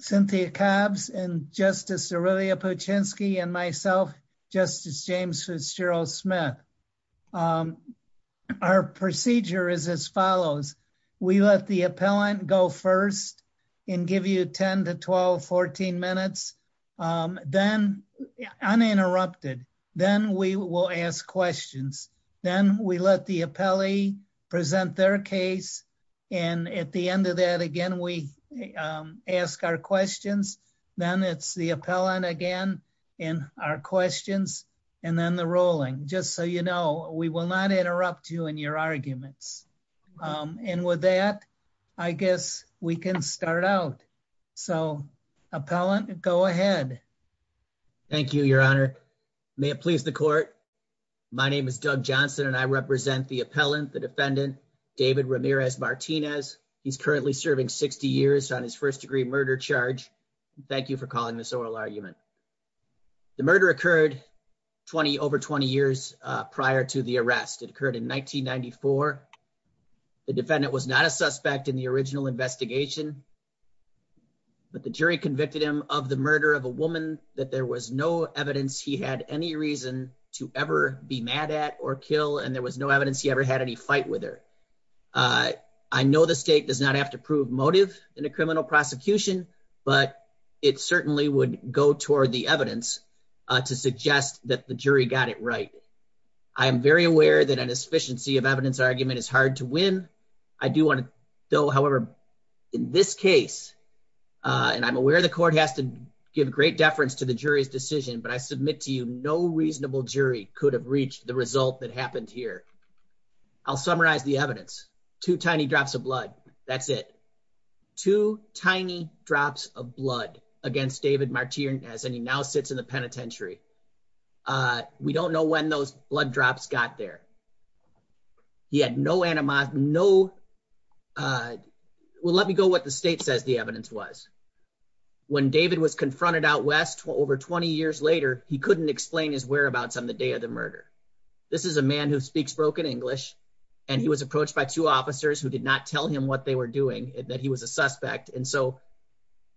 Cynthia Cobbs and Justice Aurelia Puczynski and myself, Justice James Fitzgerald-Smith. Our procedure is as follows. We let the appellant go first and give you 10-12-14 minutes, uninterrupted. Then we will ask questions. Then we let the appellee present their case. And at the end of that, again, we ask our questions. Then it's the appellant again and our questions and then the ruling. Just so you know, we will not interrupt you in your arguments. And with that, I guess we can start out. So, appellant, go ahead. Thank you, Your Honor. May it please the court. My name is Doug Johnson and I represent the David Ramirez-Martinez. He's currently serving 60 years on his first-degree murder charge. Thank you for calling this oral argument. The murder occurred over 20 years prior to the arrest. It occurred in 1994. The defendant was not a suspect in the original investigation, but the jury convicted him of the murder of a woman that there was no evidence he had any reason to ever be mad at or kill and there was no evidence he ever had any fight with her. I know the state does not have to prove motive in a criminal prosecution, but it certainly would go toward the evidence to suggest that the jury got it right. I am very aware that an sufficiency of evidence argument is hard to win. I do want to, though, however, in this case, and I'm aware the court has to give great deference to the jury's decision, but I submit to you no reasonable jury could have reached the result that happened here. I'll summarize the evidence. Two tiny drops of blood. That's it. Two tiny drops of blood against David Martinez, and he now sits in the penitentiary. We don't know when those blood drops got there. He had no animosity, no, well, let me go what the state says the evidence was. When David was confronted out west over 20 years later, he couldn't explain his whereabouts on the day of the murder. This is a man who speaks broken English, and he was approached by two officers who did not tell him what they were doing, that he was a suspect, and so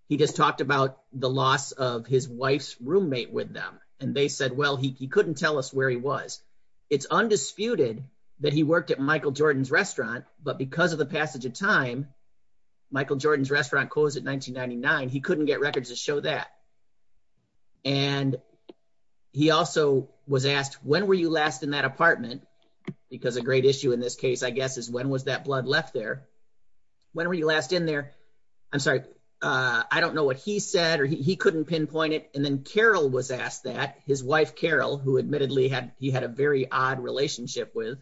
he just talked about the loss of his wife's roommate with them, and they said, well, he couldn't tell us where he was. It's undisputed that he worked at Michael Jordan's restaurant, but because of the passage of time, Michael Jordan's restaurant closed in 1999. He couldn't get records to show that, and he also was asked, when were you last in that apartment? Because a great issue in this case, I guess, is when was that blood left there? When were you last in there? I'm sorry, I don't know what he said, or he couldn't pinpoint it, and then Carol was asked that, his wife Carol, who admittedly he had a very odd relationship with,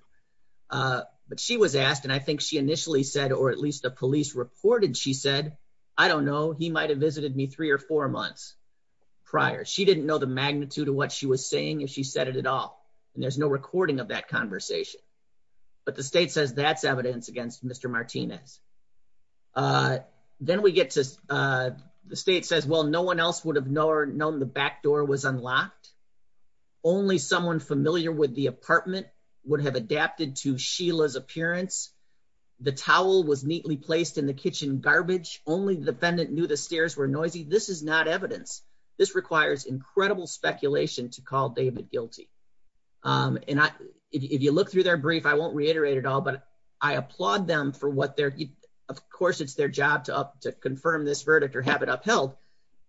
but she was asked, and I think she initially said, or at least the police reported, she said, I don't know, he might have visited me three or four months prior. She didn't know the magnitude of what she was saying if she said it at all, and there's no recording of that conversation, but the state says that's evidence against Mr. Martinez. Then we get to, the state says, well, no one else would have known the back door was unlocked. Only someone familiar with the apartment would have adapted to Sheila's appearance. The towel was neatly placed in the kitchen garbage. Only the defendant knew the stairs were noisy. This is not evidence. This requires incredible speculation to call David guilty, and if you look through their brief, I won't reiterate it all, but I applaud them for what they're, of course, it's their job to confirm this verdict or have it upheld,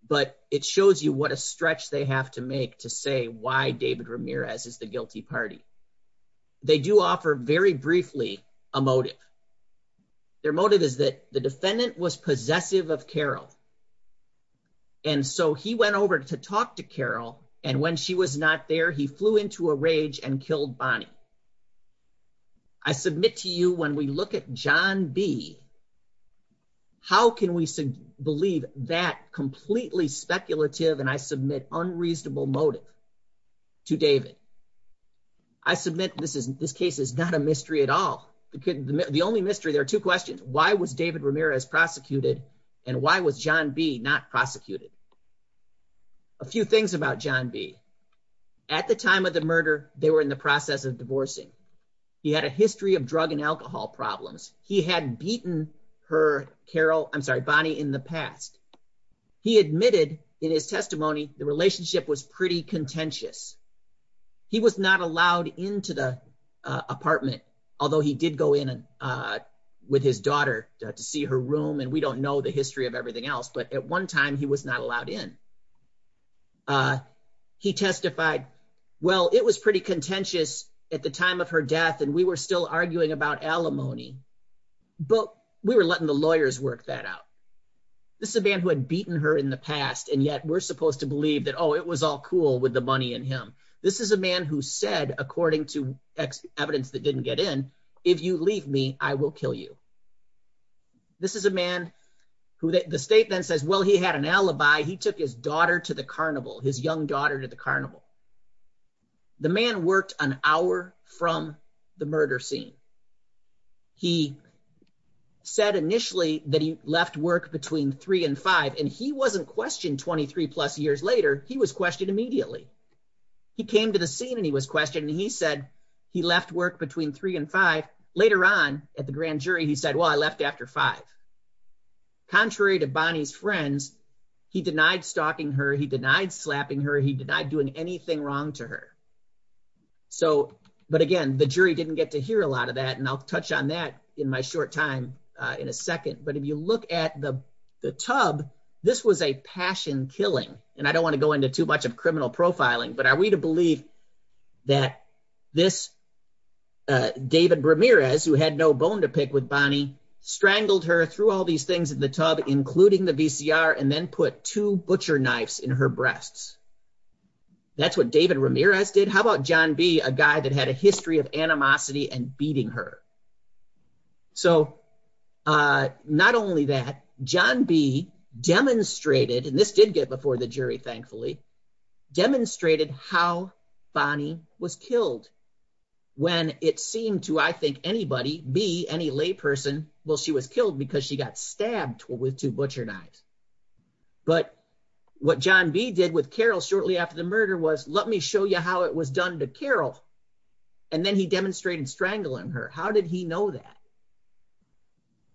but it shows you what a stretch they have to make to say why David Ramirez is the guilty party. They do offer, very briefly, a motive. Their motive is that the defendant was possessive of Carol, and so he went over to talk to Carol, and when she was not there, he flew into a rage and killed Bonnie. I submit to you, when we look at John B., how can we believe that completely speculative, and I submit unreasonable motive to David? I submit this case is not a mystery at all. The only mystery, there are two questions. Why was David Ramirez prosecuted, and why was John B. not prosecuted? A few things about John B. At the time of the murder, they were in the process of divorcing. He had a history of drug and alcohol problems. He had beaten her, Carol, I'm sorry, Bonnie, in the past. He admitted, in his testimony, the relationship was pretty contentious. He was not allowed into the apartment, although he did go in with his daughter to see her room, and we don't know the history of everything else, but at one time, he was not allowed in. He testified, well, it was pretty contentious at the time of her death, and we were still arguing about alimony, but we were letting the lawyers work that out. This is a man who had beaten her in the past, and yet we're supposed to believe that, oh, it was all cool with the money in him. This is a man who said, according to evidence that didn't get in, if you leave me, I will kill you. This is a man who the state then says, well, he had an alibi. He took his daughter to the carnival, his young from the murder scene. He said initially that he left work between three and five, and he wasn't questioned 23 plus years later. He was questioned immediately. He came to the scene, and he was questioned, and he said he left work between three and five. Later on, at the grand jury, he said, well, I left after five. Contrary to Bonnie's friends, he denied stalking her. He denied slapping her. He denied doing anything wrong to her, but again, the jury didn't get to hear a lot of that, and I'll touch on that in my short time in a second, but if you look at the tub, this was a passion killing, and I don't want to go into too much of criminal profiling, but are we to believe that this David Ramirez, who had no bone to pick with Bonnie, strangled her, threw all these things in the tub, including the VCR, and then put two butcher knives in her breasts? That's what David Ramirez did. How about John B., a guy that had a history of animosity and beating her? So not only that, John B. demonstrated, and this did get before the jury, thankfully, demonstrated how Bonnie was killed when it seemed to, I think, anybody, B., any lay person, well, she was killed because she got stabbed with two butcher knives, but what John B. did with Carol shortly after the murder was, let me show you how it was done to Carol, and then he demonstrated strangling her. How did he know that?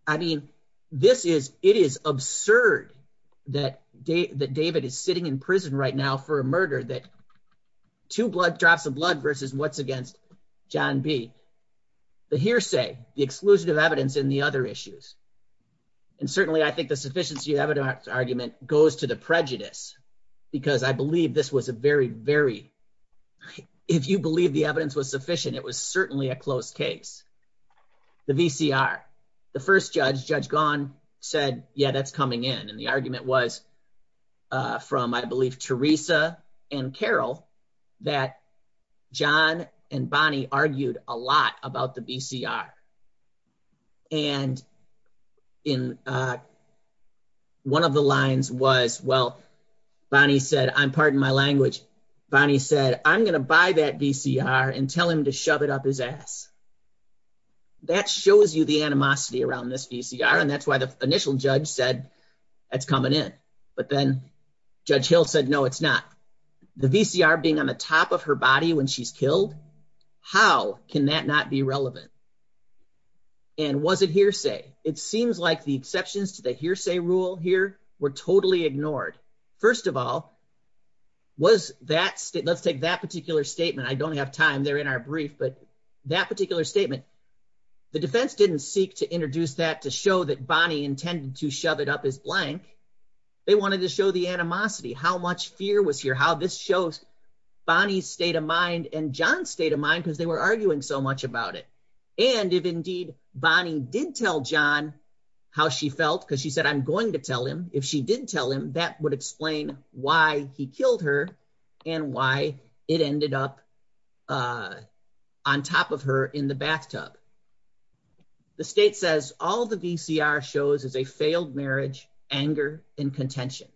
I mean, this is, it is absurd that David is sitting in prison right now for a murder that two blood drops of blood versus what's against John B. The hearsay, the exclusion of evidence in the other issues, and certainly I think the sufficiency of evidence argument goes to the prejudice, because I believe this was a very, very, if you believe the evidence was sufficient, it was certainly a close case. The VCR, the first judge, Judge Gaughan said, yeah, that's coming in, and the argument was from, I believe, Teresa and Carol, that John and Bonnie argued a lot about the VCR, and in one of the lines was, well, Bonnie said, I'm pardon my language, Bonnie said, I'm going to buy that VCR and tell him to shove it up his ass. That shows you the animosity around this VCR, and that's why the initial judge said, that's coming in, but then Judge Hill said, no, it's not. The VCR being on the top of her body when she's killed, how can that not be relevant? And was it hearsay? It seems like the exceptions to the hearsay rule here were totally ignored. First of all, was that, let's take that particular statement, I don't have time, they're in our brief, but that particular statement, the defense didn't seek to introduce that to show that Bonnie intended to shove it up his blank, they wanted to show the animosity, how much fear was here, how this shows Bonnie's state of mind and John's state of mind, because they were arguing so much about it, and if indeed Bonnie did tell John how she felt, because she said, I'm going to tell him, if she did tell him, that would explain why he killed her and why it ended up on top of her in the bathtub. The state says all the VCR shows is a failed marriage, anger, and contention.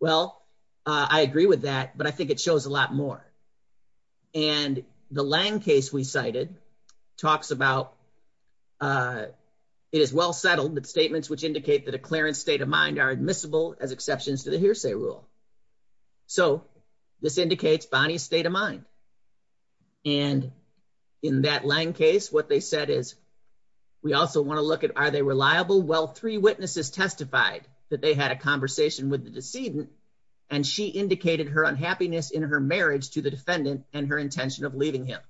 Well, I agree with that, but I think it shows a lot more. And the Lange case we cited talks about, it is well settled that statements which indicate that a clearance state of mind are admissible as exceptions to the hearsay rule. So this indicates Bonnie's state of mind. And in that Lange case, what they said is, we also want to look at, are they reliable? Well, three witnesses testified that they had a conversation with the decedent, and she indicated her unhappiness in her marriage to the defendant and her intention of leaving him.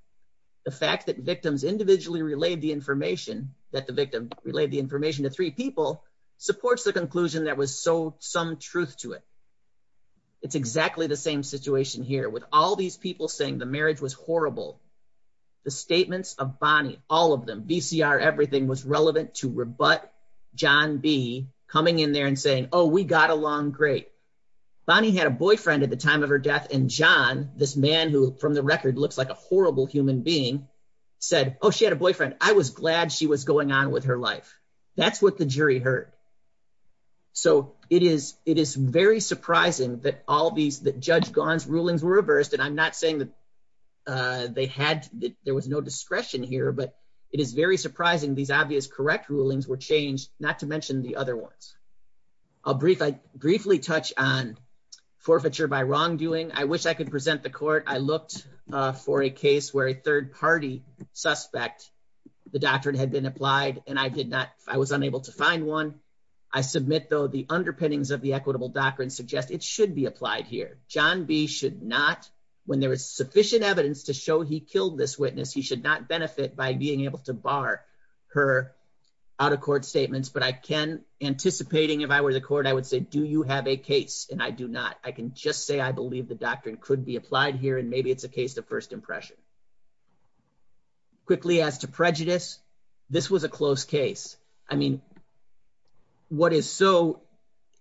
The fact that victims individually relayed the information, that the victim relayed the information to three people, supports the conclusion that was so some truth to it. It's exactly the same situation here with all these people saying the marriage was horrible. The statements of Bonnie, all of them, VCR, everything was relevant to rebut John B coming in there and saying, oh, we got along great. Bonnie had a boyfriend at the time of her death. And John, this man who from the record looks like a horrible human being, said, oh, she had a boyfriend. I was glad she was going on with her life. That's what the jury heard. So it is very surprising that all these, that Judge Ghan's rulings were reversed. And I'm not saying that they had, there was no discretion here, but it is very surprising these obvious correct rulings were changed, not to mention the other ones. I'll briefly touch on forfeiture by wrongdoing. I wish I could present the court. I looked for a case where a third party suspect, the doctrine had been applied and I did not, I was unable to find one. I submit though, the underpinnings of the doctrine suggest it should be applied here. John B should not, when there is sufficient evidence to show he killed this witness, he should not benefit by being able to bar her out of court statements. But I can, anticipating if I were the court, I would say, do you have a case? And I do not. I can just say, I believe the doctrine could be applied here and maybe it's a case of first impression. Quickly as to prejudice, this was a close case. I mean, what is so,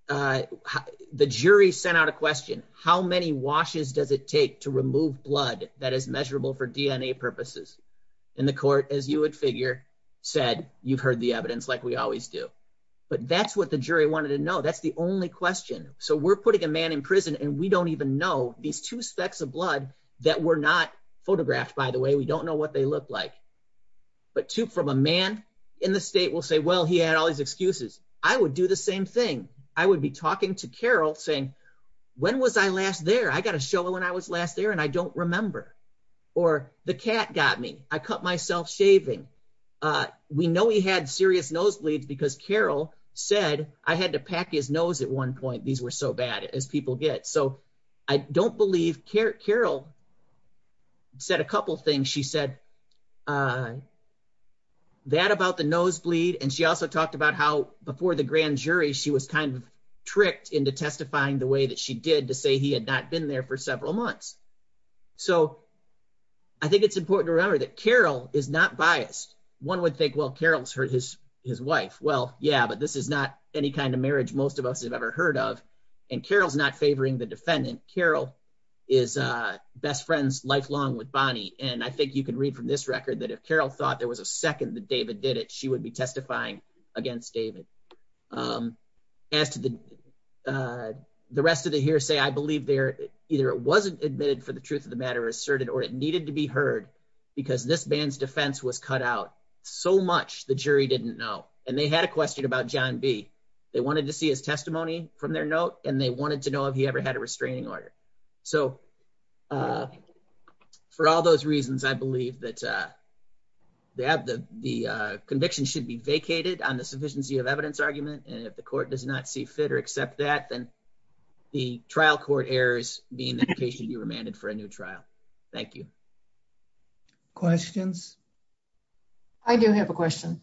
the jury sent out a question, how many washes does it take to remove blood that is measurable for DNA purposes? And the court, as you would figure, said, you've heard the evidence like we always do. But that's what the jury wanted to know. That's the only question. So we're putting a man in prison and we don't even know these two specks of blood that were not photographed, by the way. We don't know what they look like. But two from a man in the state will say, well, he had all these excuses. I would do the same thing. I would be talking to Carol saying, when was I last there? I got a show when I was last there and I don't remember. Or the cat got me. I cut myself shaving. We know he had serious nosebleeds because Carol said I had to pack his nose at one point. These were so bad as people get. So I don't believe Carol said a couple things. She said that about the nosebleed. And she also talked about how before the grand jury, she was kind of tricked into testifying the way that she did to say he had not been there for several months. So I think it's important to remember that Carol is not biased. One would think, well, Carol's hurt his wife. Well, yeah, this is not any kind of marriage most of us have ever heard of. And Carol's not favoring the defendant. Carol is best friends lifelong with Bonnie. And I think you can read from this record that if Carol thought there was a second that David did it, she would be testifying against David. As to the rest of the hearsay, I believe either it wasn't admitted for the truth of the matter asserted or it needed to be heard because this man's defense was cut out. So much the jury didn't know. And they had a question about John B. They wanted to see his testimony from their note and they wanted to know if he ever had a restraining order. So for all those reasons, I believe that the conviction should be vacated on the sufficiency of evidence argument. And if the court does not see fit or accept that, then the trial court errors being the case you remanded for a new trial. Thank you. Questions. I do have a question.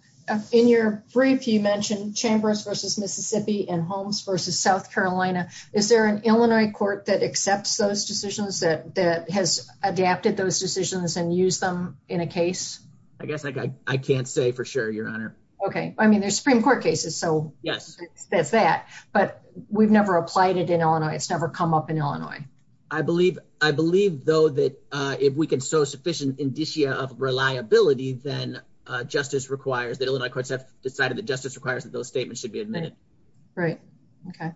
In your brief, you mentioned chambers versus Mississippi and homes versus South Carolina. Is there an Illinois court that accepts those decisions that that has adapted those decisions and use them in a case? I guess I can't say for sure, Your Honor. OK. I mean, there's Supreme Court cases. So yes, that's that. But we've never applied it in Illinois. It's never come up in Illinois. I believe I believe, though, that if we can show sufficient indicia of reliability, then justice requires that Illinois courts have decided that justice requires that those statements should be admitted. Right. OK.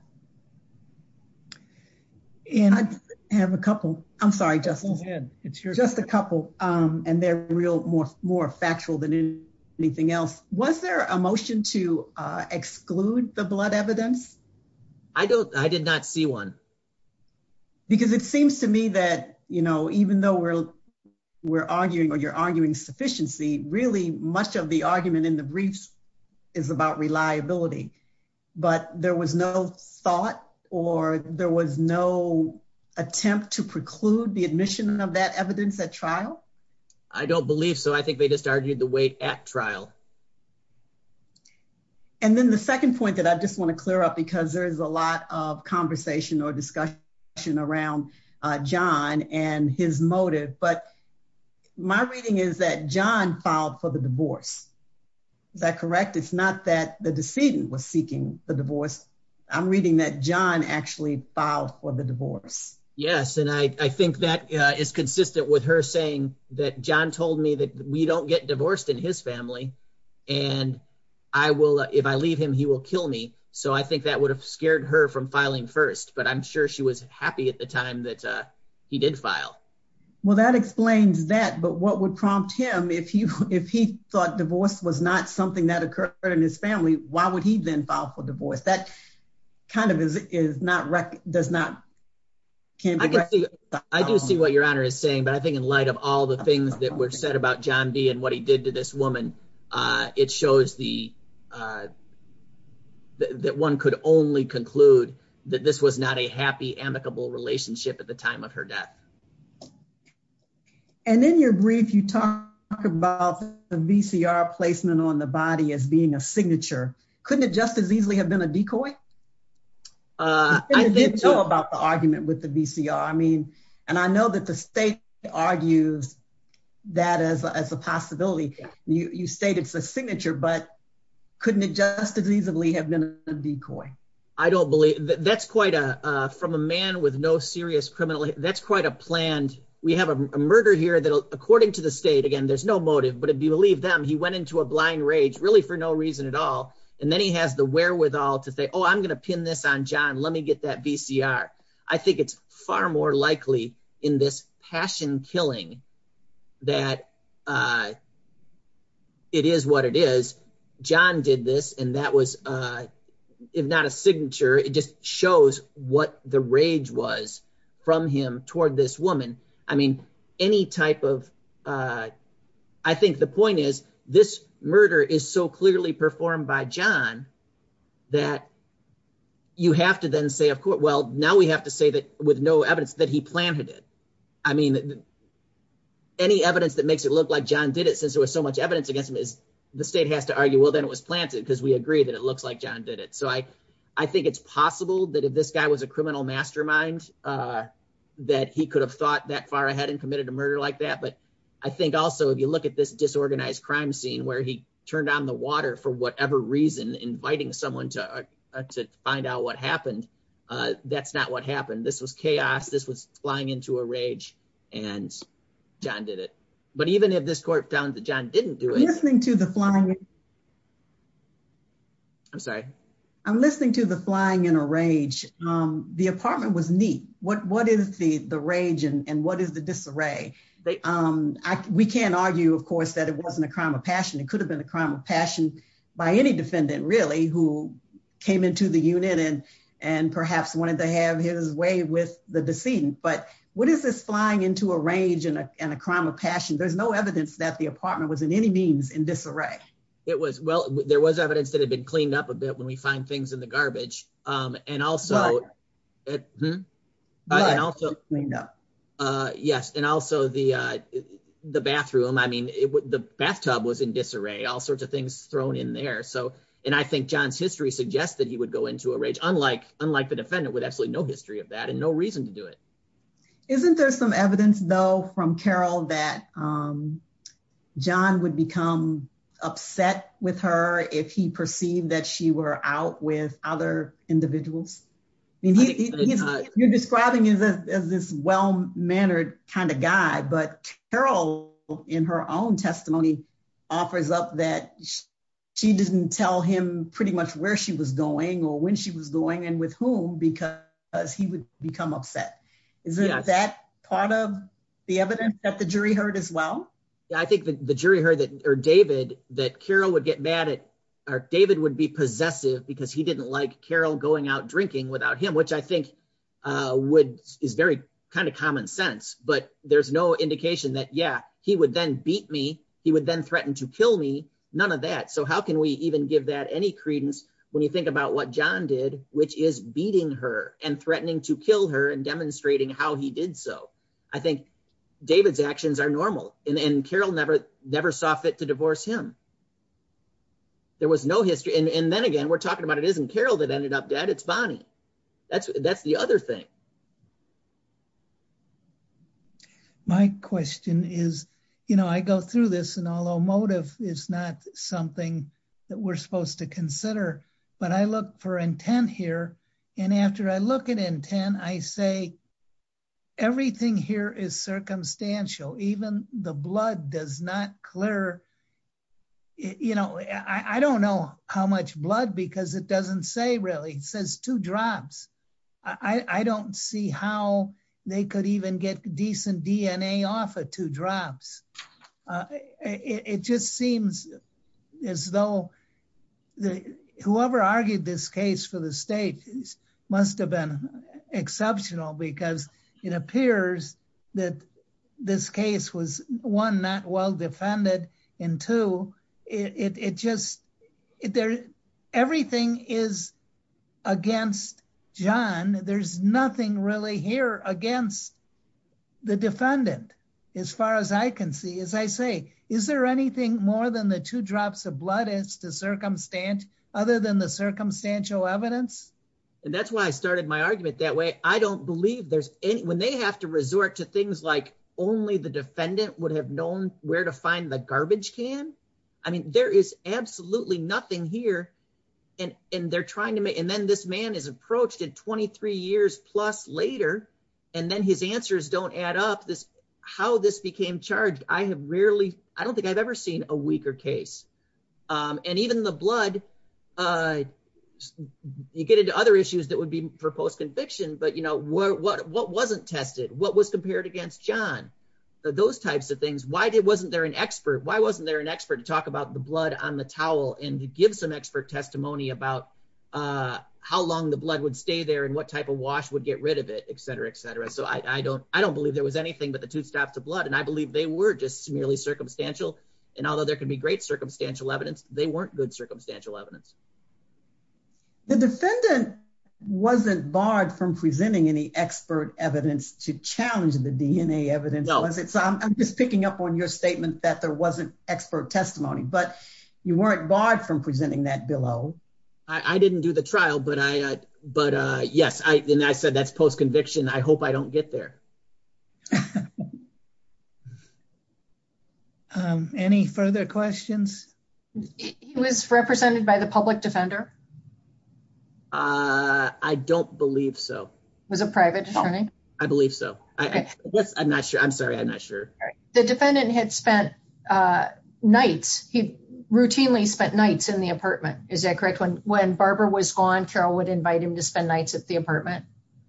And I have a couple. I'm sorry, just just a couple. And they're real more more factual than anything else. Was there a motion to exclude the blood evidence? I don't I did not see one. Because it seems to me that, you know, even though we're we're arguing or you're arguing sufficiency, really much of the argument in the briefs is about reliability. But there was no thought or there was no attempt to preclude the admission of that evidence at trial. I don't believe so. I think they just argued the weight at trial. And then the second point that I just want to clear up, because there is a lot of conversation or discussion around John and his motive. But my reading is that John filed for the divorce. Is that correct? It's not that the decedent was seeking the divorce. I'm reading that John actually filed for the divorce. Yes. And I think that is consistent with her saying that John told me that we don't get divorced in his family and I will if I leave him, he will kill me. So I think that would have scared her from filing first. But I'm sure she was happy at the time that he did file. Well, that explains that. But what would prompt him if he if he thought divorce was not something that occurred in his family? Why would he then file for divorce? That kind of is not does not. I do see what your honor is saying, but I think in light of all the things that were said about John B and what he did to this woman, it shows the that one could only conclude that this was not a happy, amicable relationship at the time of her death. And in your brief, you talk about the VCR placement on the body as being a signature. Couldn't it just as easily have been a decoy? I didn't know about the argument with the VCR. I mean, and I know that the state argues that as a possibility. You state it's a signature, but couldn't it just as easily have been a decoy? I don't believe that. That's quite a from a man with no serious criminal. That's quite a planned. We have a murder here that according to the state, again, there's no motive. But if you believe them, he went into a blind rage really for no reason at all. And then he has the wherewithal to say, oh, I'm going to pin this on John. Let me get that VCR. I think it's far more likely in this passion killing that it is what it is. John did this, and that was, if not a signature, it just shows what the rage was from him toward this woman. I mean, any type of, I think the point is this murder is so clearly performed by John that you have to then say, of course, well, now we have to say that with no evidence that he planted it. I mean, any evidence that makes it look like John did it since there was so much evidence against him is the state has to argue, well, then it was planted because we agree that it looks like John did it. So I think it's possible that if this guy was a criminal mastermind, that he could have thought that far ahead and committed a murder like that. But I think also, if you look at this disorganized crime scene where he turned on the water for whatever reason, inviting someone to find out what happened, that's not what happened. This was chaos. This was flying into a rage, and John did it. But even if this court found that John didn't do it- I'm listening to the flying- I'm sorry? I'm listening to the flying in a rage. The apartment was neat. What is the rage and what is the disarray? We can't argue, of course, it wasn't a crime of passion. It could have been a crime of passion by any defendant, really, who came into the unit and perhaps wanted to have his way with the decedent. But what is this flying into a rage and a crime of passion? There's no evidence that the apartment was in any means in disarray. Well, there was evidence that had been cleaned up a bit when we find things in the bathtub was in disarray, all sorts of things thrown in there. And I think John's history suggests that he would go into a rage, unlike the defendant with absolutely no history of that and no reason to do it. Isn't there some evidence, though, from Carroll that John would become upset with her if he perceived that she were out with other individuals? You're describing as this well-mannered kind of guy. But Carroll, in her own testimony, offers up that she didn't tell him pretty much where she was going or when she was going and with whom because he would become upset. Is that part of the evidence that the jury heard as well? I think the jury heard that or David, that Carroll would get mad at or David would be possessive because he didn't like Carroll going out drinking without him, which I think would is very kind of common sense. But there's no indication that, yeah, he would then beat me. He would then threaten to kill me. None of that. So how can we even give that any credence when you think about what John did, which is beating her and threatening to kill her and demonstrating how he did so? I think David's actions are normal. And Carroll never never saw fit to divorce him. There was no history. And then again, we're talking about it isn't Carroll that ended up dead. It's Bonnie. That's that's the other thing. My question is, you know, I go through this and although motive is not something that we're supposed to consider, but I look for intent here. And after I look at intent, I say, everything here is circumstantial. Even the blood does not clear. You know, I don't know how much blood because it doesn't say really says two drops. I don't see how they could even get decent DNA off of two drops. It just seems as though the whoever argued this case for the state must have been exceptional because it appears that this case was one not well defended. And two, it just it there. Everything is against John. There's nothing really here against the defendant. As far as I can see, as I say, is there anything more than the two drops of blood is to circumstance other than the circumstantial evidence? And that's why I started my argument that way. I don't believe there's any when they have to resort to things like only the defendant would have known where to find the garbage can. I mean, there is absolutely nothing here. And they're trying to make and then this man is approached in 23 years plus later. And then his I don't think I've ever seen a weaker case. And even the blood, you get into other issues that would be proposed conviction. But, you know, what wasn't tested? What was compared against John? Those types of things. Why wasn't there an expert? Why wasn't there an expert to talk about the blood on the towel and give some expert testimony about how long the blood would stay there and what type of wash would get rid of it, et cetera, et cetera. So I don't I don't believe there was anything but the two stops of blood. And I believe they were just merely circumstantial. And although there can be great circumstantial evidence, they weren't good circumstantial evidence. The defendant wasn't barred from presenting any expert evidence to challenge the DNA evidence. So I'm just picking up on your statement that there wasn't expert testimony, but you weren't barred from presenting that below. I didn't do the trial, but I but yes, I said that's post conviction. I hope I don't get there. Um, any further questions? He was represented by the public defender. Uh, I don't believe so. Was a private attorney. I believe so. I guess I'm not sure. I'm sorry. I'm not sure. The defendant had spent nights he routinely spent nights in the apartment. Is that correct? When when Barbara was gone, Carol would invite him to spend nights at the apartment.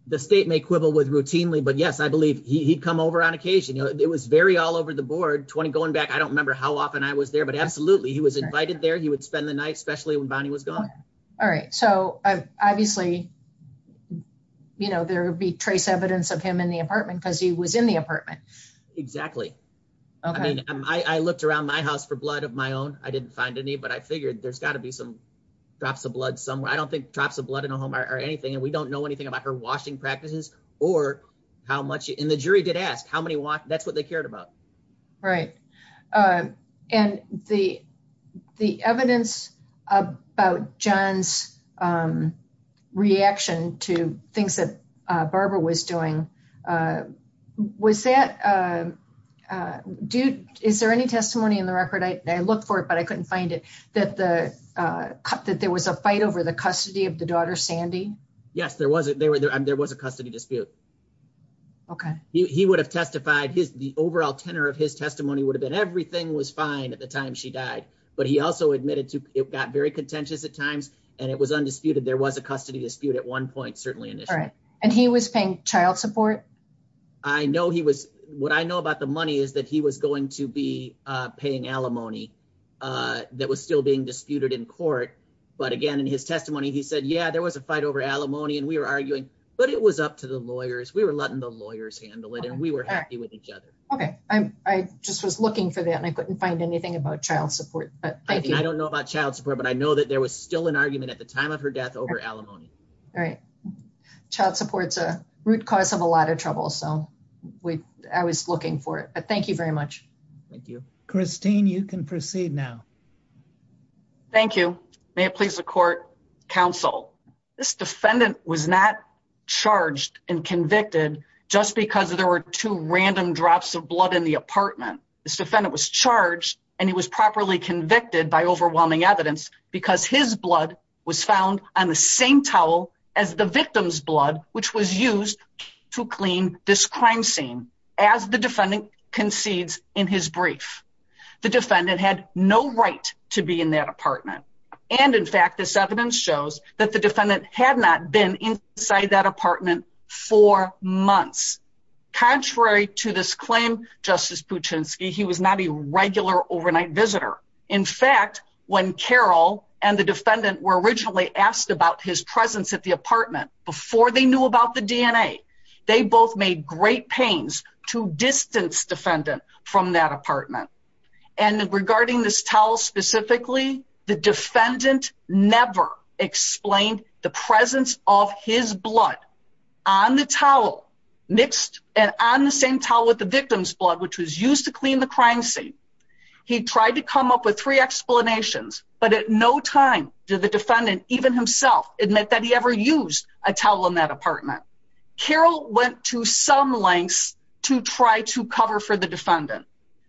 The state may quibble with routinely. But yes, I believe he'd come over on occasion. It was very all over the board 20 going back. I don't remember how often I was there, but absolutely he was invited there. He would spend the night, especially when Bonnie was gone. All right. So obviously, you know, there would be trace evidence of him in the apartment because he was in the apartment. Exactly. I mean, I looked around my house for blood of my own. I didn't find any, but I figured there's got to be some drops of blood somewhere. I don't think drops of blood in a home or anything. And we don't know anything about her washing practices or how much in the jury did ask how many walk. That's what they cared about. Right. And the the evidence about John's reaction to things that Barbara was doing, was that do is there any testimony in the record? I looked for it, but I couldn't find it that the that there was a fight over the custody of the daughter, Sandy. Yes, there was. There was a custody dispute. OK, he would have testified his the overall tenor of his testimony would have been everything was fine at the time she died. But he also admitted to it got very contentious at times and it was undisputed. There was a custody dispute at one point, certainly. All right. And he was paying child support. I know he was. What I know about the money is that he was going to be paying alimony that was still being disputed in court. But again, in his testimony, he said, yeah, there was a fight over alimony and we were arguing, but it was up to the lawyers. We were letting the lawyers handle it and we were happy with each other. OK, I just was looking for that and I couldn't find anything about child support. But I don't know about child support, but I know that there was still an argument at the time of her death over alimony. All right. Child support's a root cause of a lot of trouble. So we I was looking for it. But thank you very much. Thank you, Christine. You can proceed now. Thank you. May it please the court counsel. This defendant was not charged and convicted just because there were two random drops of blood in the apartment. This defendant was charged and he was properly convicted by overwhelming evidence because his blood was found on the same towel as the victim's blood, which was used to clean this crime scene. As the defendant concedes in his brief, the defendant had no right to be in that apartment. And in fact, this evidence shows that the defendant had not been inside that apartment for months. Contrary to this claim, Justice Puchinski, he was not a regular overnight visitor. In fact, when Carol and the defendant were originally asked about his presence at the great pains to distance defendant from that apartment and regarding this towel specifically, the defendant never explained the presence of his blood on the towel mixed and on the same towel with the victim's blood, which was used to clean the crime scene. He tried to come up with three explanations, but at no time did the defendant even himself admit that he ever used a towel in that apartment. Carol went to some lengths to try to cover for the defendant.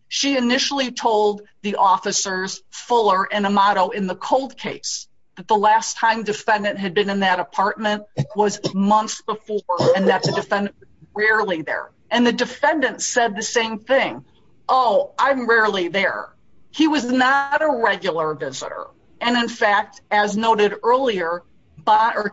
She initially told the officers Fuller and Amato in the cold case that the last time defendant had been in that apartment was months before and that the defendant rarely there. And the defendant said the same thing. Oh, I'm rarely there. He was not a regular visitor. And in fact, as noted earlier,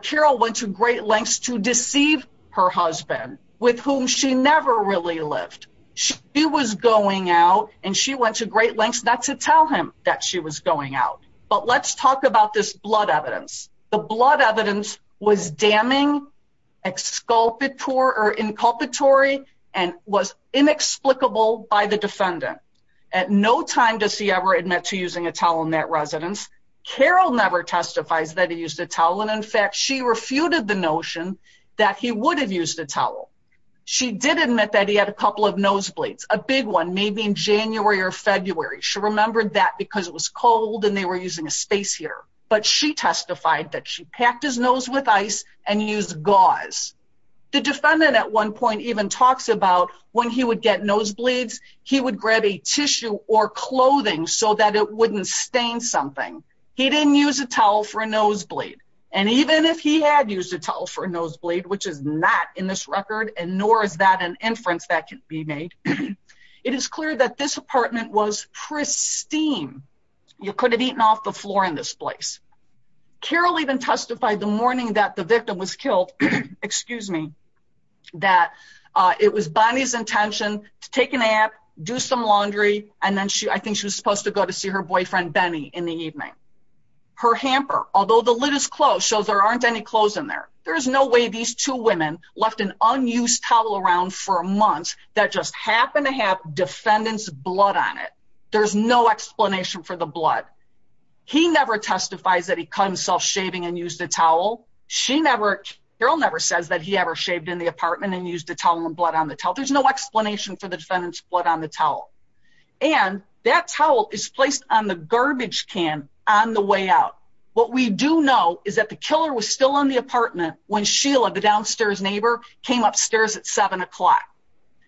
Carol went to great lengths to deceive her husband with whom she never really lived. She was going out and she went to great lengths not to tell him that she was going out. But let's talk about this blood evidence. The blood evidence was damning, exculpatory or inculpatory and was inexplicable by the defendant. At no time does he ever admit using a towel in that residence. Carol never testifies that he used a towel. And in fact, she refuted the notion that he would have used a towel. She did admit that he had a couple of nosebleeds, a big one, maybe in January or February. She remembered that because it was cold and they were using a space heater. But she testified that she packed his nose with ice and used gauze. The defendant at one point even talks about when he would get nosebleeds, he would grab a tissue or clothing so that it wouldn't stain something. He didn't use a towel for a nosebleed. And even if he had used a towel for a nosebleed, which is not in this record, and nor is that an inference that can be made, it is clear that this apartment was pristine. You could have eaten off the floor in this place. Carol even testified the morning that the victim was killed, excuse me, that it was Bonnie's intention to take a nap, do some laundry, and then I think she was supposed to go to see her boyfriend, Benny, in the evening. Her hamper, although the lid is closed, shows there aren't any clothes in there. There's no way these two women left an unused towel around for months that just happened to have defendant's blood on it. There's no explanation for the blood. He never testifies that he caught himself shaving and used a towel. She never, Carol never says that he ever shaved in the apartment and used a towel and blood on the towel. There's no explanation for the defendant's blood on the towel. And that towel is placed on the garbage can on the way out. What we do know is that the killer was still in the apartment when Sheila, the downstairs neighbor, came upstairs at seven o'clock.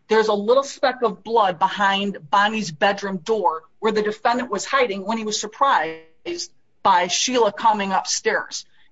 There's a little speck of blood behind Bonnie's bedroom door where the defendant was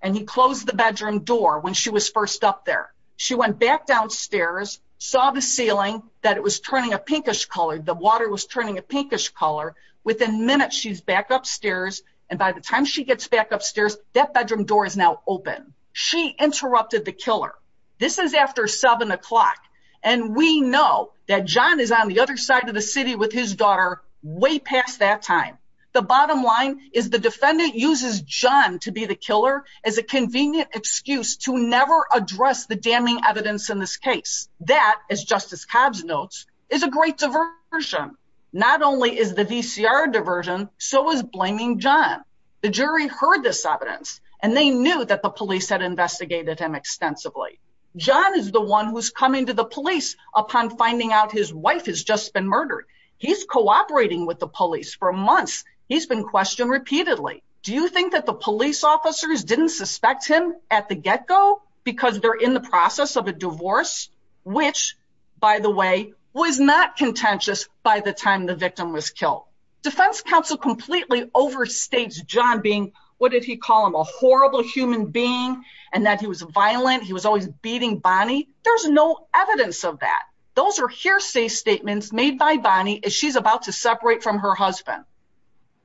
and he closed the bedroom door when she was first up there. She went back downstairs, saw the ceiling, that it was turning a pinkish color. The water was turning a pinkish color. Within minutes, she's back upstairs and by the time she gets back upstairs, that bedroom door is now open. She interrupted the killer. This is after seven o'clock and we know that John is on the other side of the city with his daughter way past that time. The bottom line is the defendant uses John to be the killer as a convenient excuse to never address the damning evidence in this case that, as Justice Cobbs notes, is a great diversion. Not only is the VCR diversion, so is blaming John. The jury heard this evidence and they knew that the police had investigated him extensively. John is the one who's coming to the police upon finding out his wife has just been murdered. He's cooperating with the police for months. He's been questioned repeatedly. Do you think that the police officers didn't suspect him at the get-go because they're in the process of a divorce? Which, by the way, was not contentious by the time the victim was killed. Defense counsel completely overstates John being, what did he call him, a horrible human being and that he was violent. He was always beating Bonnie. There's no evidence of that. Those are hearsay statements made by Bonnie as she's about to separate from her husband.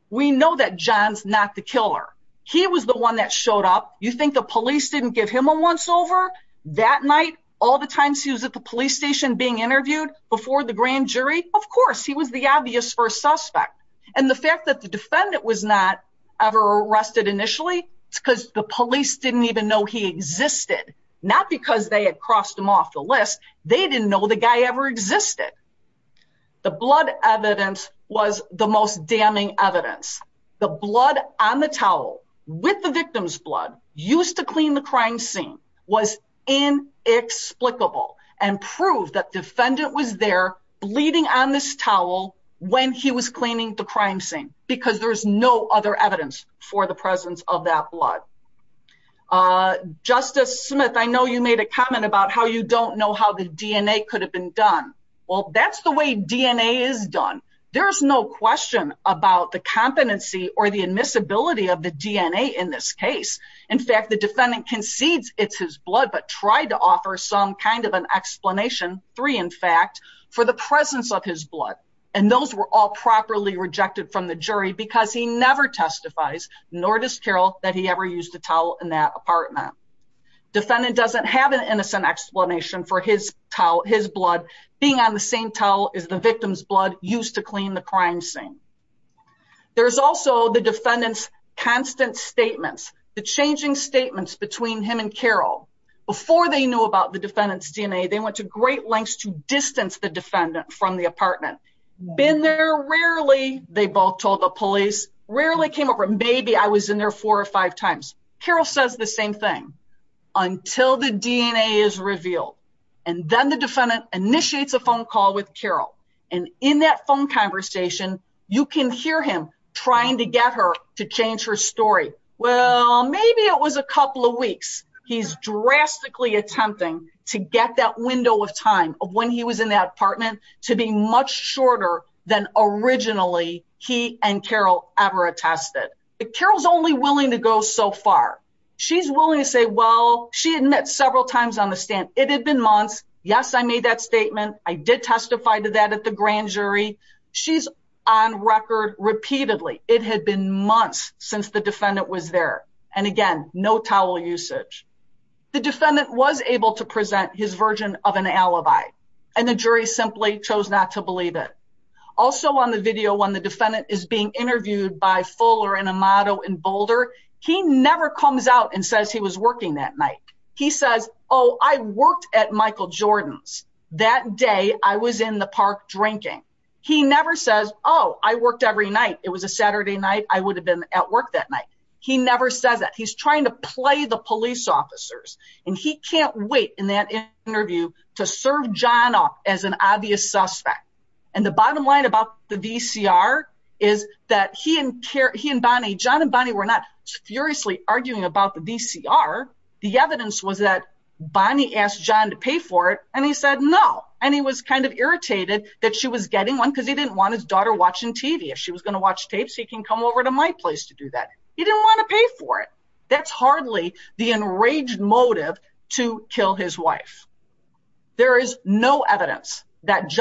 We know that John's the killer. He was the one that showed up. You think the police didn't give him a once-over that night, all the times he was at the police station being interviewed before the grand jury? Of course, he was the obvious first suspect. And the fact that the defendant was not ever arrested initially, it's because the police didn't even know he existed. Not because they had crossed him off the list. They didn't know the guy ever existed. The blood evidence was the most damning evidence. The blood on the towel with the victim's blood used to clean the crime scene was inexplicable and proved that defendant was there bleeding on this towel when he was cleaning the crime scene because there's no other evidence for the presence of that blood. Justice Smith, I know you made a comment about how you don't know how the DNA could have been done. Well, that's the way DNA is done. There's no question about the competency or the admissibility of the DNA in this case. In fact, the defendant concedes it's his blood, but tried to offer some kind of an explanation, three in fact, for the presence of his blood. And those were all properly rejected from the jury because he never testifies, nor does Carroll, that he ever used a towel in that apartment. Defendant doesn't have an innocent explanation for his towel, his blood being on the same towel as the victim's blood used to clean the crime scene. There's also the defendant's constant statements, the changing statements between him and Carroll. Before they knew about the defendant's DNA, they went to great lengths to distance the defendant from the apartment. Been there rarely, they both told the police, rarely came over. Maybe I was in there four or five times. Carroll says the same thing until the DNA is revealed. And then the defendant initiates a phone call with Carroll. And in that phone conversation, you can hear him trying to get her to change her story. Well, maybe it was a couple of weeks. He's drastically attempting to get that window of time of when he was in that apartment to be much shorter than originally he and Carroll ever attested. Carroll's only willing to go so far. She's willing to say, well, she had met several times on the stand. It had been months. Yes, I made that statement. I did testify to that at the grand jury. She's on record repeatedly. It had been months since the defendant was there. And again, no towel usage. The defendant was able to present his version of an alibi, and the jury simply chose not to believe it. Also on the video, when the defendant is being interviewed by Fuller and Amato in Boulder, he never comes out and says he was working that night. He says, oh, I worked at Michael Jordan's that day. I was in the park drinking. He never says, oh, I worked every night. It was a Saturday night. I would have been at work that night. He never says that. He's trying to play the police officers. And he can't wait in that interview to serve John off as an obvious suspect. And the bottom line about the VCR is that he and Bonnie, John and Bonnie were not furiously arguing about the VCR. The evidence was that Bonnie asked John to pay for it. And he said no. And he was kind of irritated that she was getting one because he didn't want his daughter watching TV. If she was going to watch tapes, he can come over to my place to do that. He didn't want to pay for it. That's hardly the enraged motive to kill his wife. There is no evidence that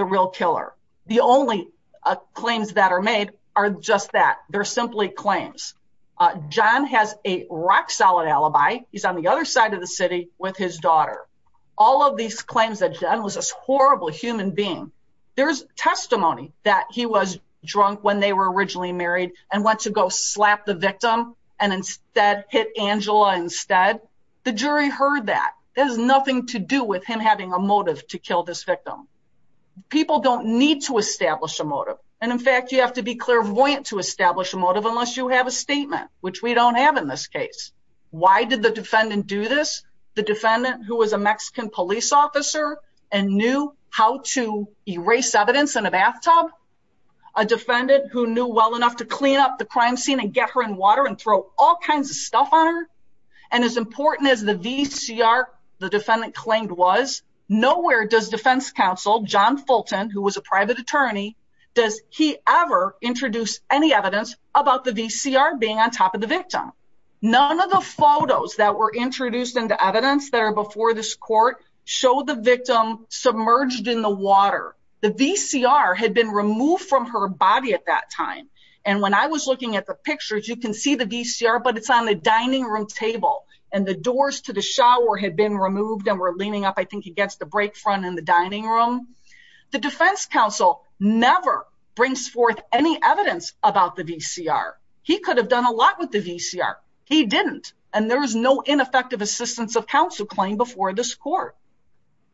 real killer. The only claims that are made are just that. They're simply claims. John has a rock solid alibi. He's on the other side of the city with his daughter. All of these claims that John was this horrible human being. There's testimony that he was drunk when they were originally married and went to go slap the victim and instead hit Angela instead. The jury heard that. There's nothing to do with him having a motive to kill this victim. People don't need to establish a motive. And in fact, you have to be clairvoyant to establish a motive unless you have a statement, which we don't have in this case. Why did the defendant do this? The defendant who was a Mexican police officer and knew how to erase evidence in a bathtub. A defendant who knew well enough to clean up the crime scene and get her in water and throw all kinds of stuff on her. And as important as the VCR, the defendant claimed was nowhere does defense counsel John Fulton, who was a private attorney, does he ever introduce any evidence about the VCR being on top of the victim? None of the photos that were introduced into evidence there before this court show the victim submerged in the water. The VCR had been removed from her body at that time. And when I was looking at the pictures, you can see the VCR, but it's on the dining room table and the doors to the shower had been removed and were leaning up. I think he gets the break front in the dining room. The defense counsel never brings forth any evidence about the VCR. He could have done a lot with the VCR. He didn't. And there was no ineffective assistance of counsel claim before this court.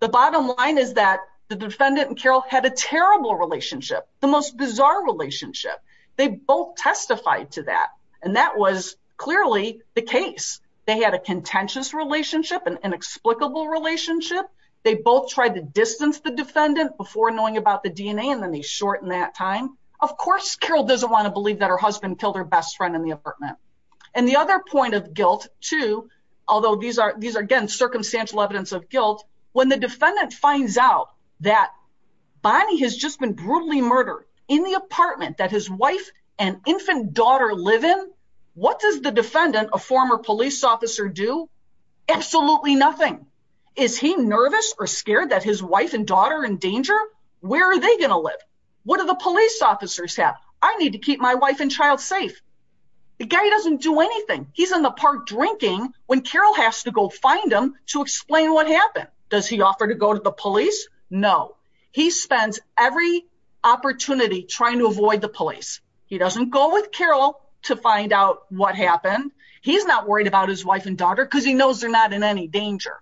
The bottom line is that the defendant and Carol had a terrible relationship, the most bizarre relationship. They both testified to that. And that was clearly the case. They had a contentious relationship and inexplicable relationship. They both tried to distance the defendant before knowing about the DNA. And then they shorten that time. Of course, Carol doesn't want to believe that her husband killed her best friend in the apartment. And the other point of guilt, too, although these are these are, again, circumstantial evidence of guilt, when the defendant finds out that Bonnie has just been brutally murdered in the apartment that his wife and infant daughter live in, what does the defendant, a former police officer do? Absolutely nothing. Is he nervous or scared that his wife and daughter in danger? Where are they going to live? What are the police officers have? I need to keep my wife and child safe. The guy doesn't do anything. He's in the park drinking when Carol has to go find him to explain what happened. Does he offer to go to the he spends every opportunity trying to avoid the police. He doesn't go with Carol to find out what happened. He's not worried about his wife and daughter because he knows they're not in any danger.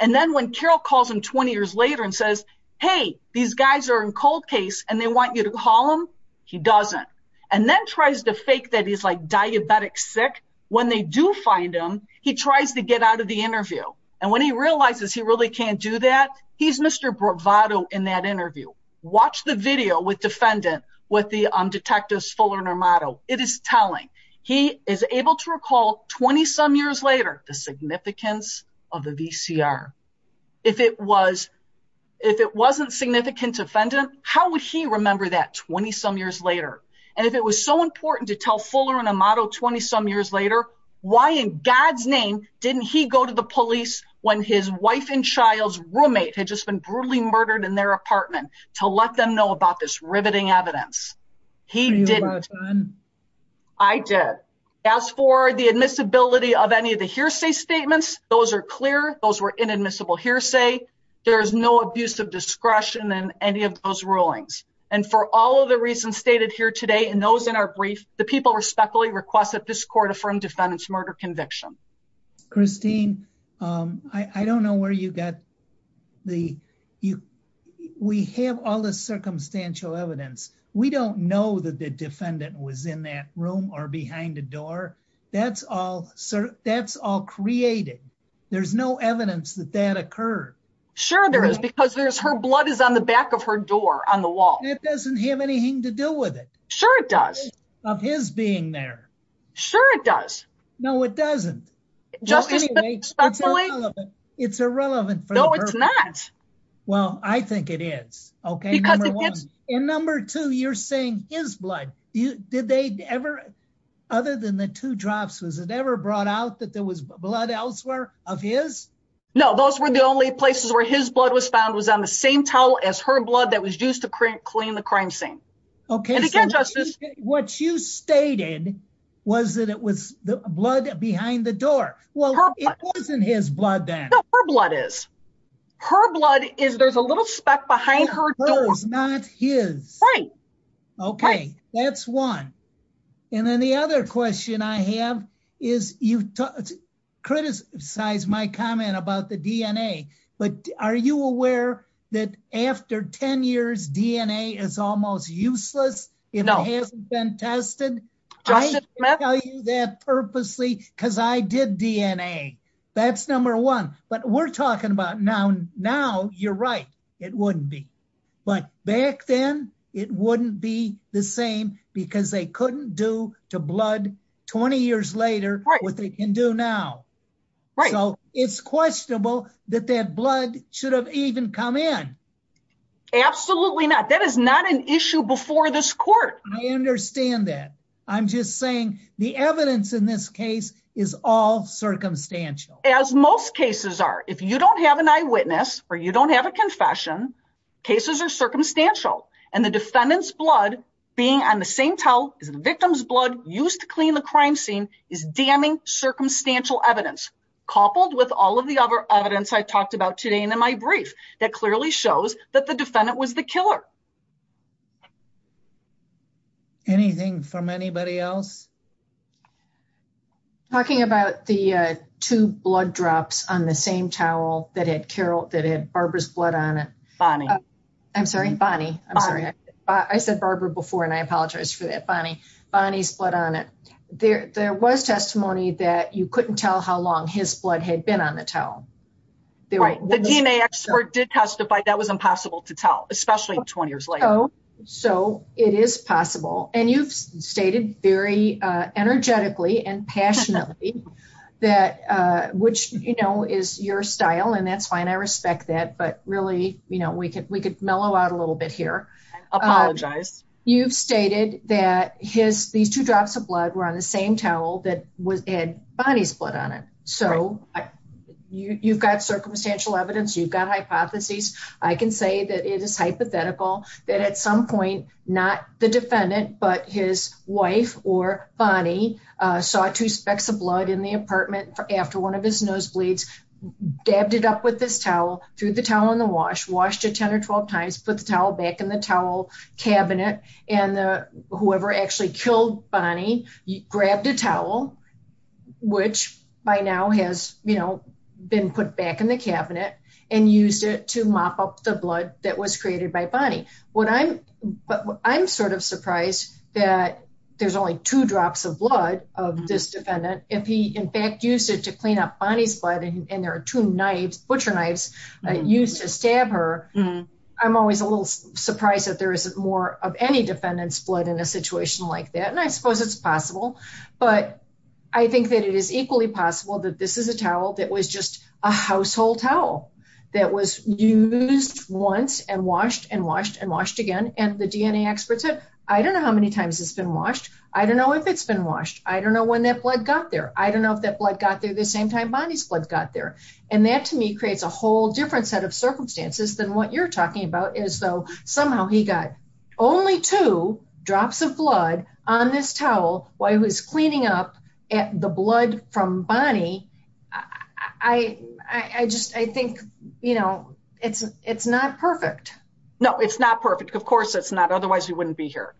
And then when Carol calls him 20 years later and says, hey, these guys are in cold case and they want you to call him, he doesn't and then tries to fake that he's like diabetic sick. When they do find him, he tries to get out of the interview. And when he realizes he really can't do that, he's Mr. Bravado in that interview. Watch the video with defendant with the detectives Fuller and Amato. It is telling. He is able to recall 20 some years later the significance of the VCR. If it was, if it wasn't significant defendant, how would he remember that 20 some years later? And if it was so important to tell Fuller and Amato 20 some years later, why in God's name didn't he go to the police when his wife and child's roommate had just been brutally murdered in their apartment to let them know about this riveting evidence? He didn't. I did. As for the admissibility of any of the hearsay statements, those are clear. Those were inadmissible hearsay. There is no abuse of discretion in any of those rulings. And for all of the reasons stated here today, and those in our brief, the people respectfully request that this court affirm defendant's murder conviction. Christine. Um, I don't know where you got the, you, we have all the circumstantial evidence. We don't know that the defendant was in that room or behind the door. That's all sir. That's all created. There's no evidence that that occurred. Sure there is because there's her blood is on the back of her door on the wall. It doesn't have anything to do with it. Sure. It does of his being there. Sure. It does. No, it doesn't. It's irrelevant. No, it's not. Well, I think it is. Okay. And number two, you're saying his blood, you did they ever, other than the two drops, was it ever brought out that there was blood elsewhere of his? No, those were the only places where his blood was found was on the same towel as her blood that was used to clean the crime scene. Okay. And again, justice, what you stated was that it was the blood behind the door. Well, it wasn't his blood. Then her blood is her blood is there's a little speck behind her. It's not his. Okay. That's one. And then the other question I have is you criticize my comment about the DNA, but are you aware that after 10 years, DNA is almost useless? It hasn't been tested that purposely because I did DNA that's number one, but we're talking about now, now you're right. It wouldn't be, but back then it wouldn't be the same because they couldn't do to blood 20 years later what they can do now. Right. So it's questionable that that blood should have even come in. Absolutely not. That is not an issue before this court. I understand that. I'm just saying the evidence in this case is all circumstantial. As most cases are, if you don't have an eyewitness or you don't have a confession, cases are circumstantial and the defendant's blood being on the same towel is the victim's blood used to clean the crime scene is damning circumstantial evidence, coupled with all of the other evidence I talked about today. And in my brief that clearly shows that the defendant was the killer. Anything from anybody else? Talking about the two blood drops on the same towel that had Carol, that had Barbara's blood on it. Bonnie. I'm sorry, Bonnie. I'm sorry. I said Barbara before, and I apologize for that. Bonnie, Bonnie's blood on it. There, there was testimony that you couldn't tell how long his blood had been on the towel. The DNA expert did testify that was impossible to tell, especially 20 years later. So it is possible. And you've stated very energetically and passionately that which, you know, is your style and that's fine. I respect that, but really, you know, we could, we could mellow out a little bit here. I apologize. You've stated that his, these two drops of blood were on the same towel that was, had Bonnie's blood on it. So you've got circumstantial evidence. You've got hypotheses. I can say that it is hypothetical that at some point, not the after one of his nosebleeds, dabbed it up with this towel, threw the towel in the wash, washed it 10 or 12 times, put the towel back in the towel cabinet. And the, whoever actually killed Bonnie grabbed a towel, which by now has, you know, been put back in the cabinet and used it to mop up the blood that was created by Bonnie. What I'm, I'm sort of surprised that there's only two drops of blood of this defendant. If he in fact used it to clean up Bonnie's blood and there are two knives, butcher knives used to stab her. I'm always a little surprised that there isn't more of any defendant's blood in a situation like that. And I suppose it's possible, but I think that it is equally possible that this is a towel that was just a household towel that was used once and washed and washed and washed again. And the DNA experts said, I don't know how many times it's been washed. I don't know if it's been washed. I don't know when that blood got there. I don't know if that blood got there the same time Bonnie's blood got there. And that to me creates a whole different set of circumstances than what you're talking about is though somehow he got only two drops of blood on this towel while he was cleaning up the blood from Bonnie. I, I, I just, I think, you know, it's, it's not perfect. No, it's not perfect. Of course it's not. Otherwise we wouldn't be here.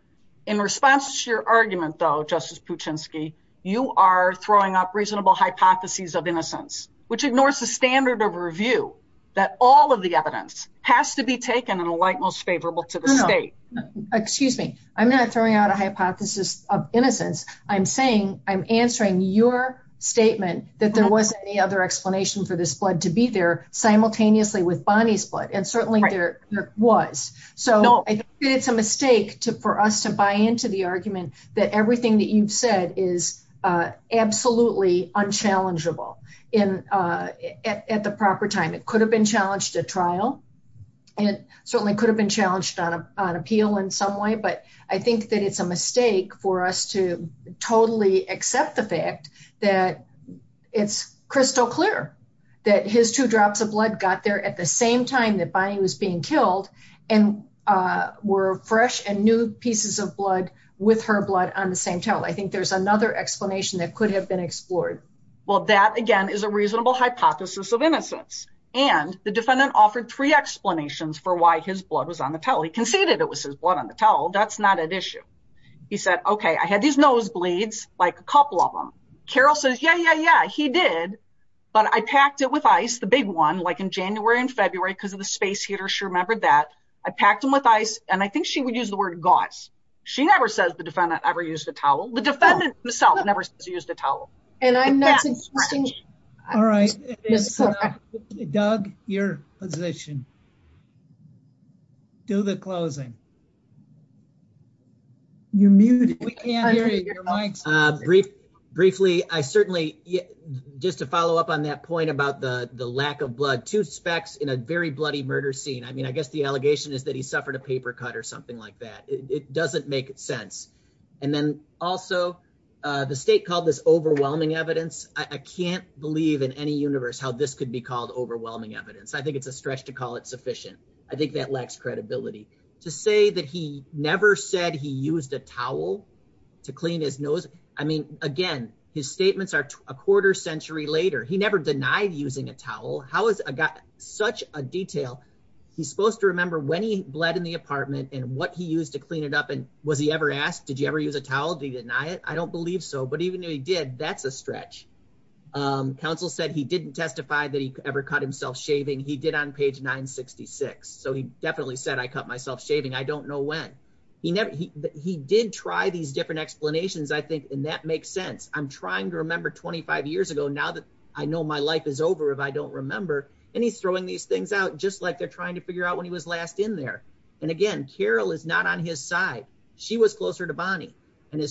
In response to your argument though, justice Puchinsky, you are throwing up reasonable hypotheses of innocence, which ignores the standard of review that all of the evidence has to be taken in a light, most favorable to the state. Excuse me. I'm not throwing out a hypothesis of innocence. I'm saying I'm answering your statement that there wasn't any other explanation for this blood to be simultaneously with Bonnie's blood. And certainly there was. So it's a mistake to, for us to buy into the argument that everything that you've said is absolutely unchallengeable in at the proper time. It could have been challenged at trial and certainly could have been challenged on a, on appeal in some way. But I think that it's a mistake for us to totally accept the fact that it's crystal clear that his two drops of blood got there at the same time that Bonnie was being killed and were fresh and new pieces of blood with her blood on the same towel. I think there's another explanation that could have been explored. Well, that again is a reasonable hypothesis of innocence. And the defendant offered three explanations for why his blood was on the towel. He conceded it was his blood on the towel. That's not an issue. He said, okay, I had these nosebleeds, like a couple of them. Carol says, yeah, yeah, yeah, he did. But I packed it with ice, the big one, like in January and February, because of the space heater, she remembered that. I packed him with ice. And I think she would use the word gauze. She never says the defendant ever used a towel. The defendant himself never used a towel. And I'm not suggesting... All right. Doug, your position. Do the closing. You're muted. We can't hear you. Your mic's on. Briefly, I certainly... Just to follow up on that point about the lack of blood, two specks in a very bloody murder scene. I mean, I guess the allegation is that he suffered a paper cut or something like that. It doesn't make sense. And then also, the state called this overwhelming evidence. I can't believe in any universe how this could be called overwhelming evidence. I think it's a stretch to call it sufficient. I think that lacks credibility. To say that he never said he used a towel to clean his nose. I mean, again, his statements are a quarter century later. He never denied using a towel. How is such a detail? He's supposed to remember when he bled in the apartment and what he used to clean it up. And he ever asked, did you ever use a towel? Did he deny it? I don't believe so. But even if he did, that's a stretch. Counsel said he didn't testify that he ever cut himself shaving. He did on page 966. So he definitely said, I cut myself shaving. I don't know when. He did try these different explanations, I think. And that makes sense. I'm trying to remember 25 years ago now that I know my life is over if I don't remember. And he's throwing these things out just like they're his side. She was closer to Bonnie. He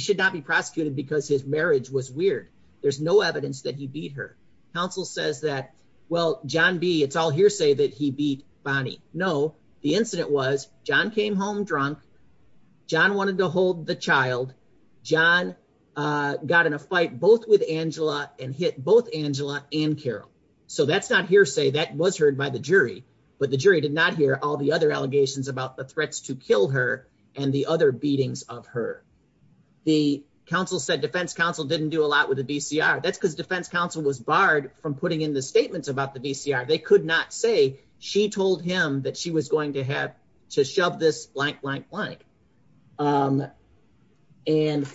should not be prosecuted because his marriage was weird. There's no evidence that he beat her. Counsel says that, well, John B., it's all hearsay that he beat Bonnie. No, the incident was John came home drunk. John wanted to hold the child. John got in a fight both with Angela and hit both Angela and Carol. So that's not hearsay. That was heard by the jury. But the jury did not hear all the other allegations about the threats to kill her and the other beatings of her. The counsel said defense counsel didn't do a lot with the VCR. That's because defense counsel was barred from putting in the statements about the VCR. They could not say she told him that she was going to have to shove this blank, blank, blank. And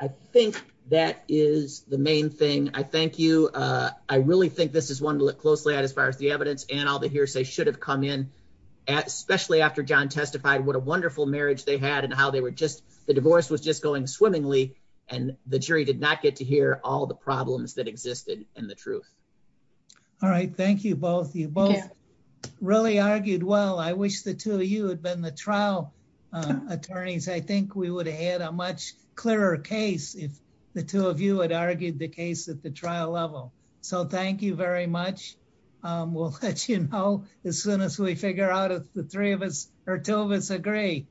I think that is the main thing. I thank you. I really think this is one to look closely at as the evidence and all the hearsay should have come in, especially after John testified what a wonderful marriage they had and how they were just the divorce was just going swimmingly and the jury did not get to hear all the problems that existed and the truth. All right. Thank you both. You both really argued. Well, I wish the two of you had been the trial attorneys. I think we would have had a much clearer case if the two of you had argued the case at the trial level. So thank you very much. We'll let you know as soon as we figure out if the three of us or two of us agree.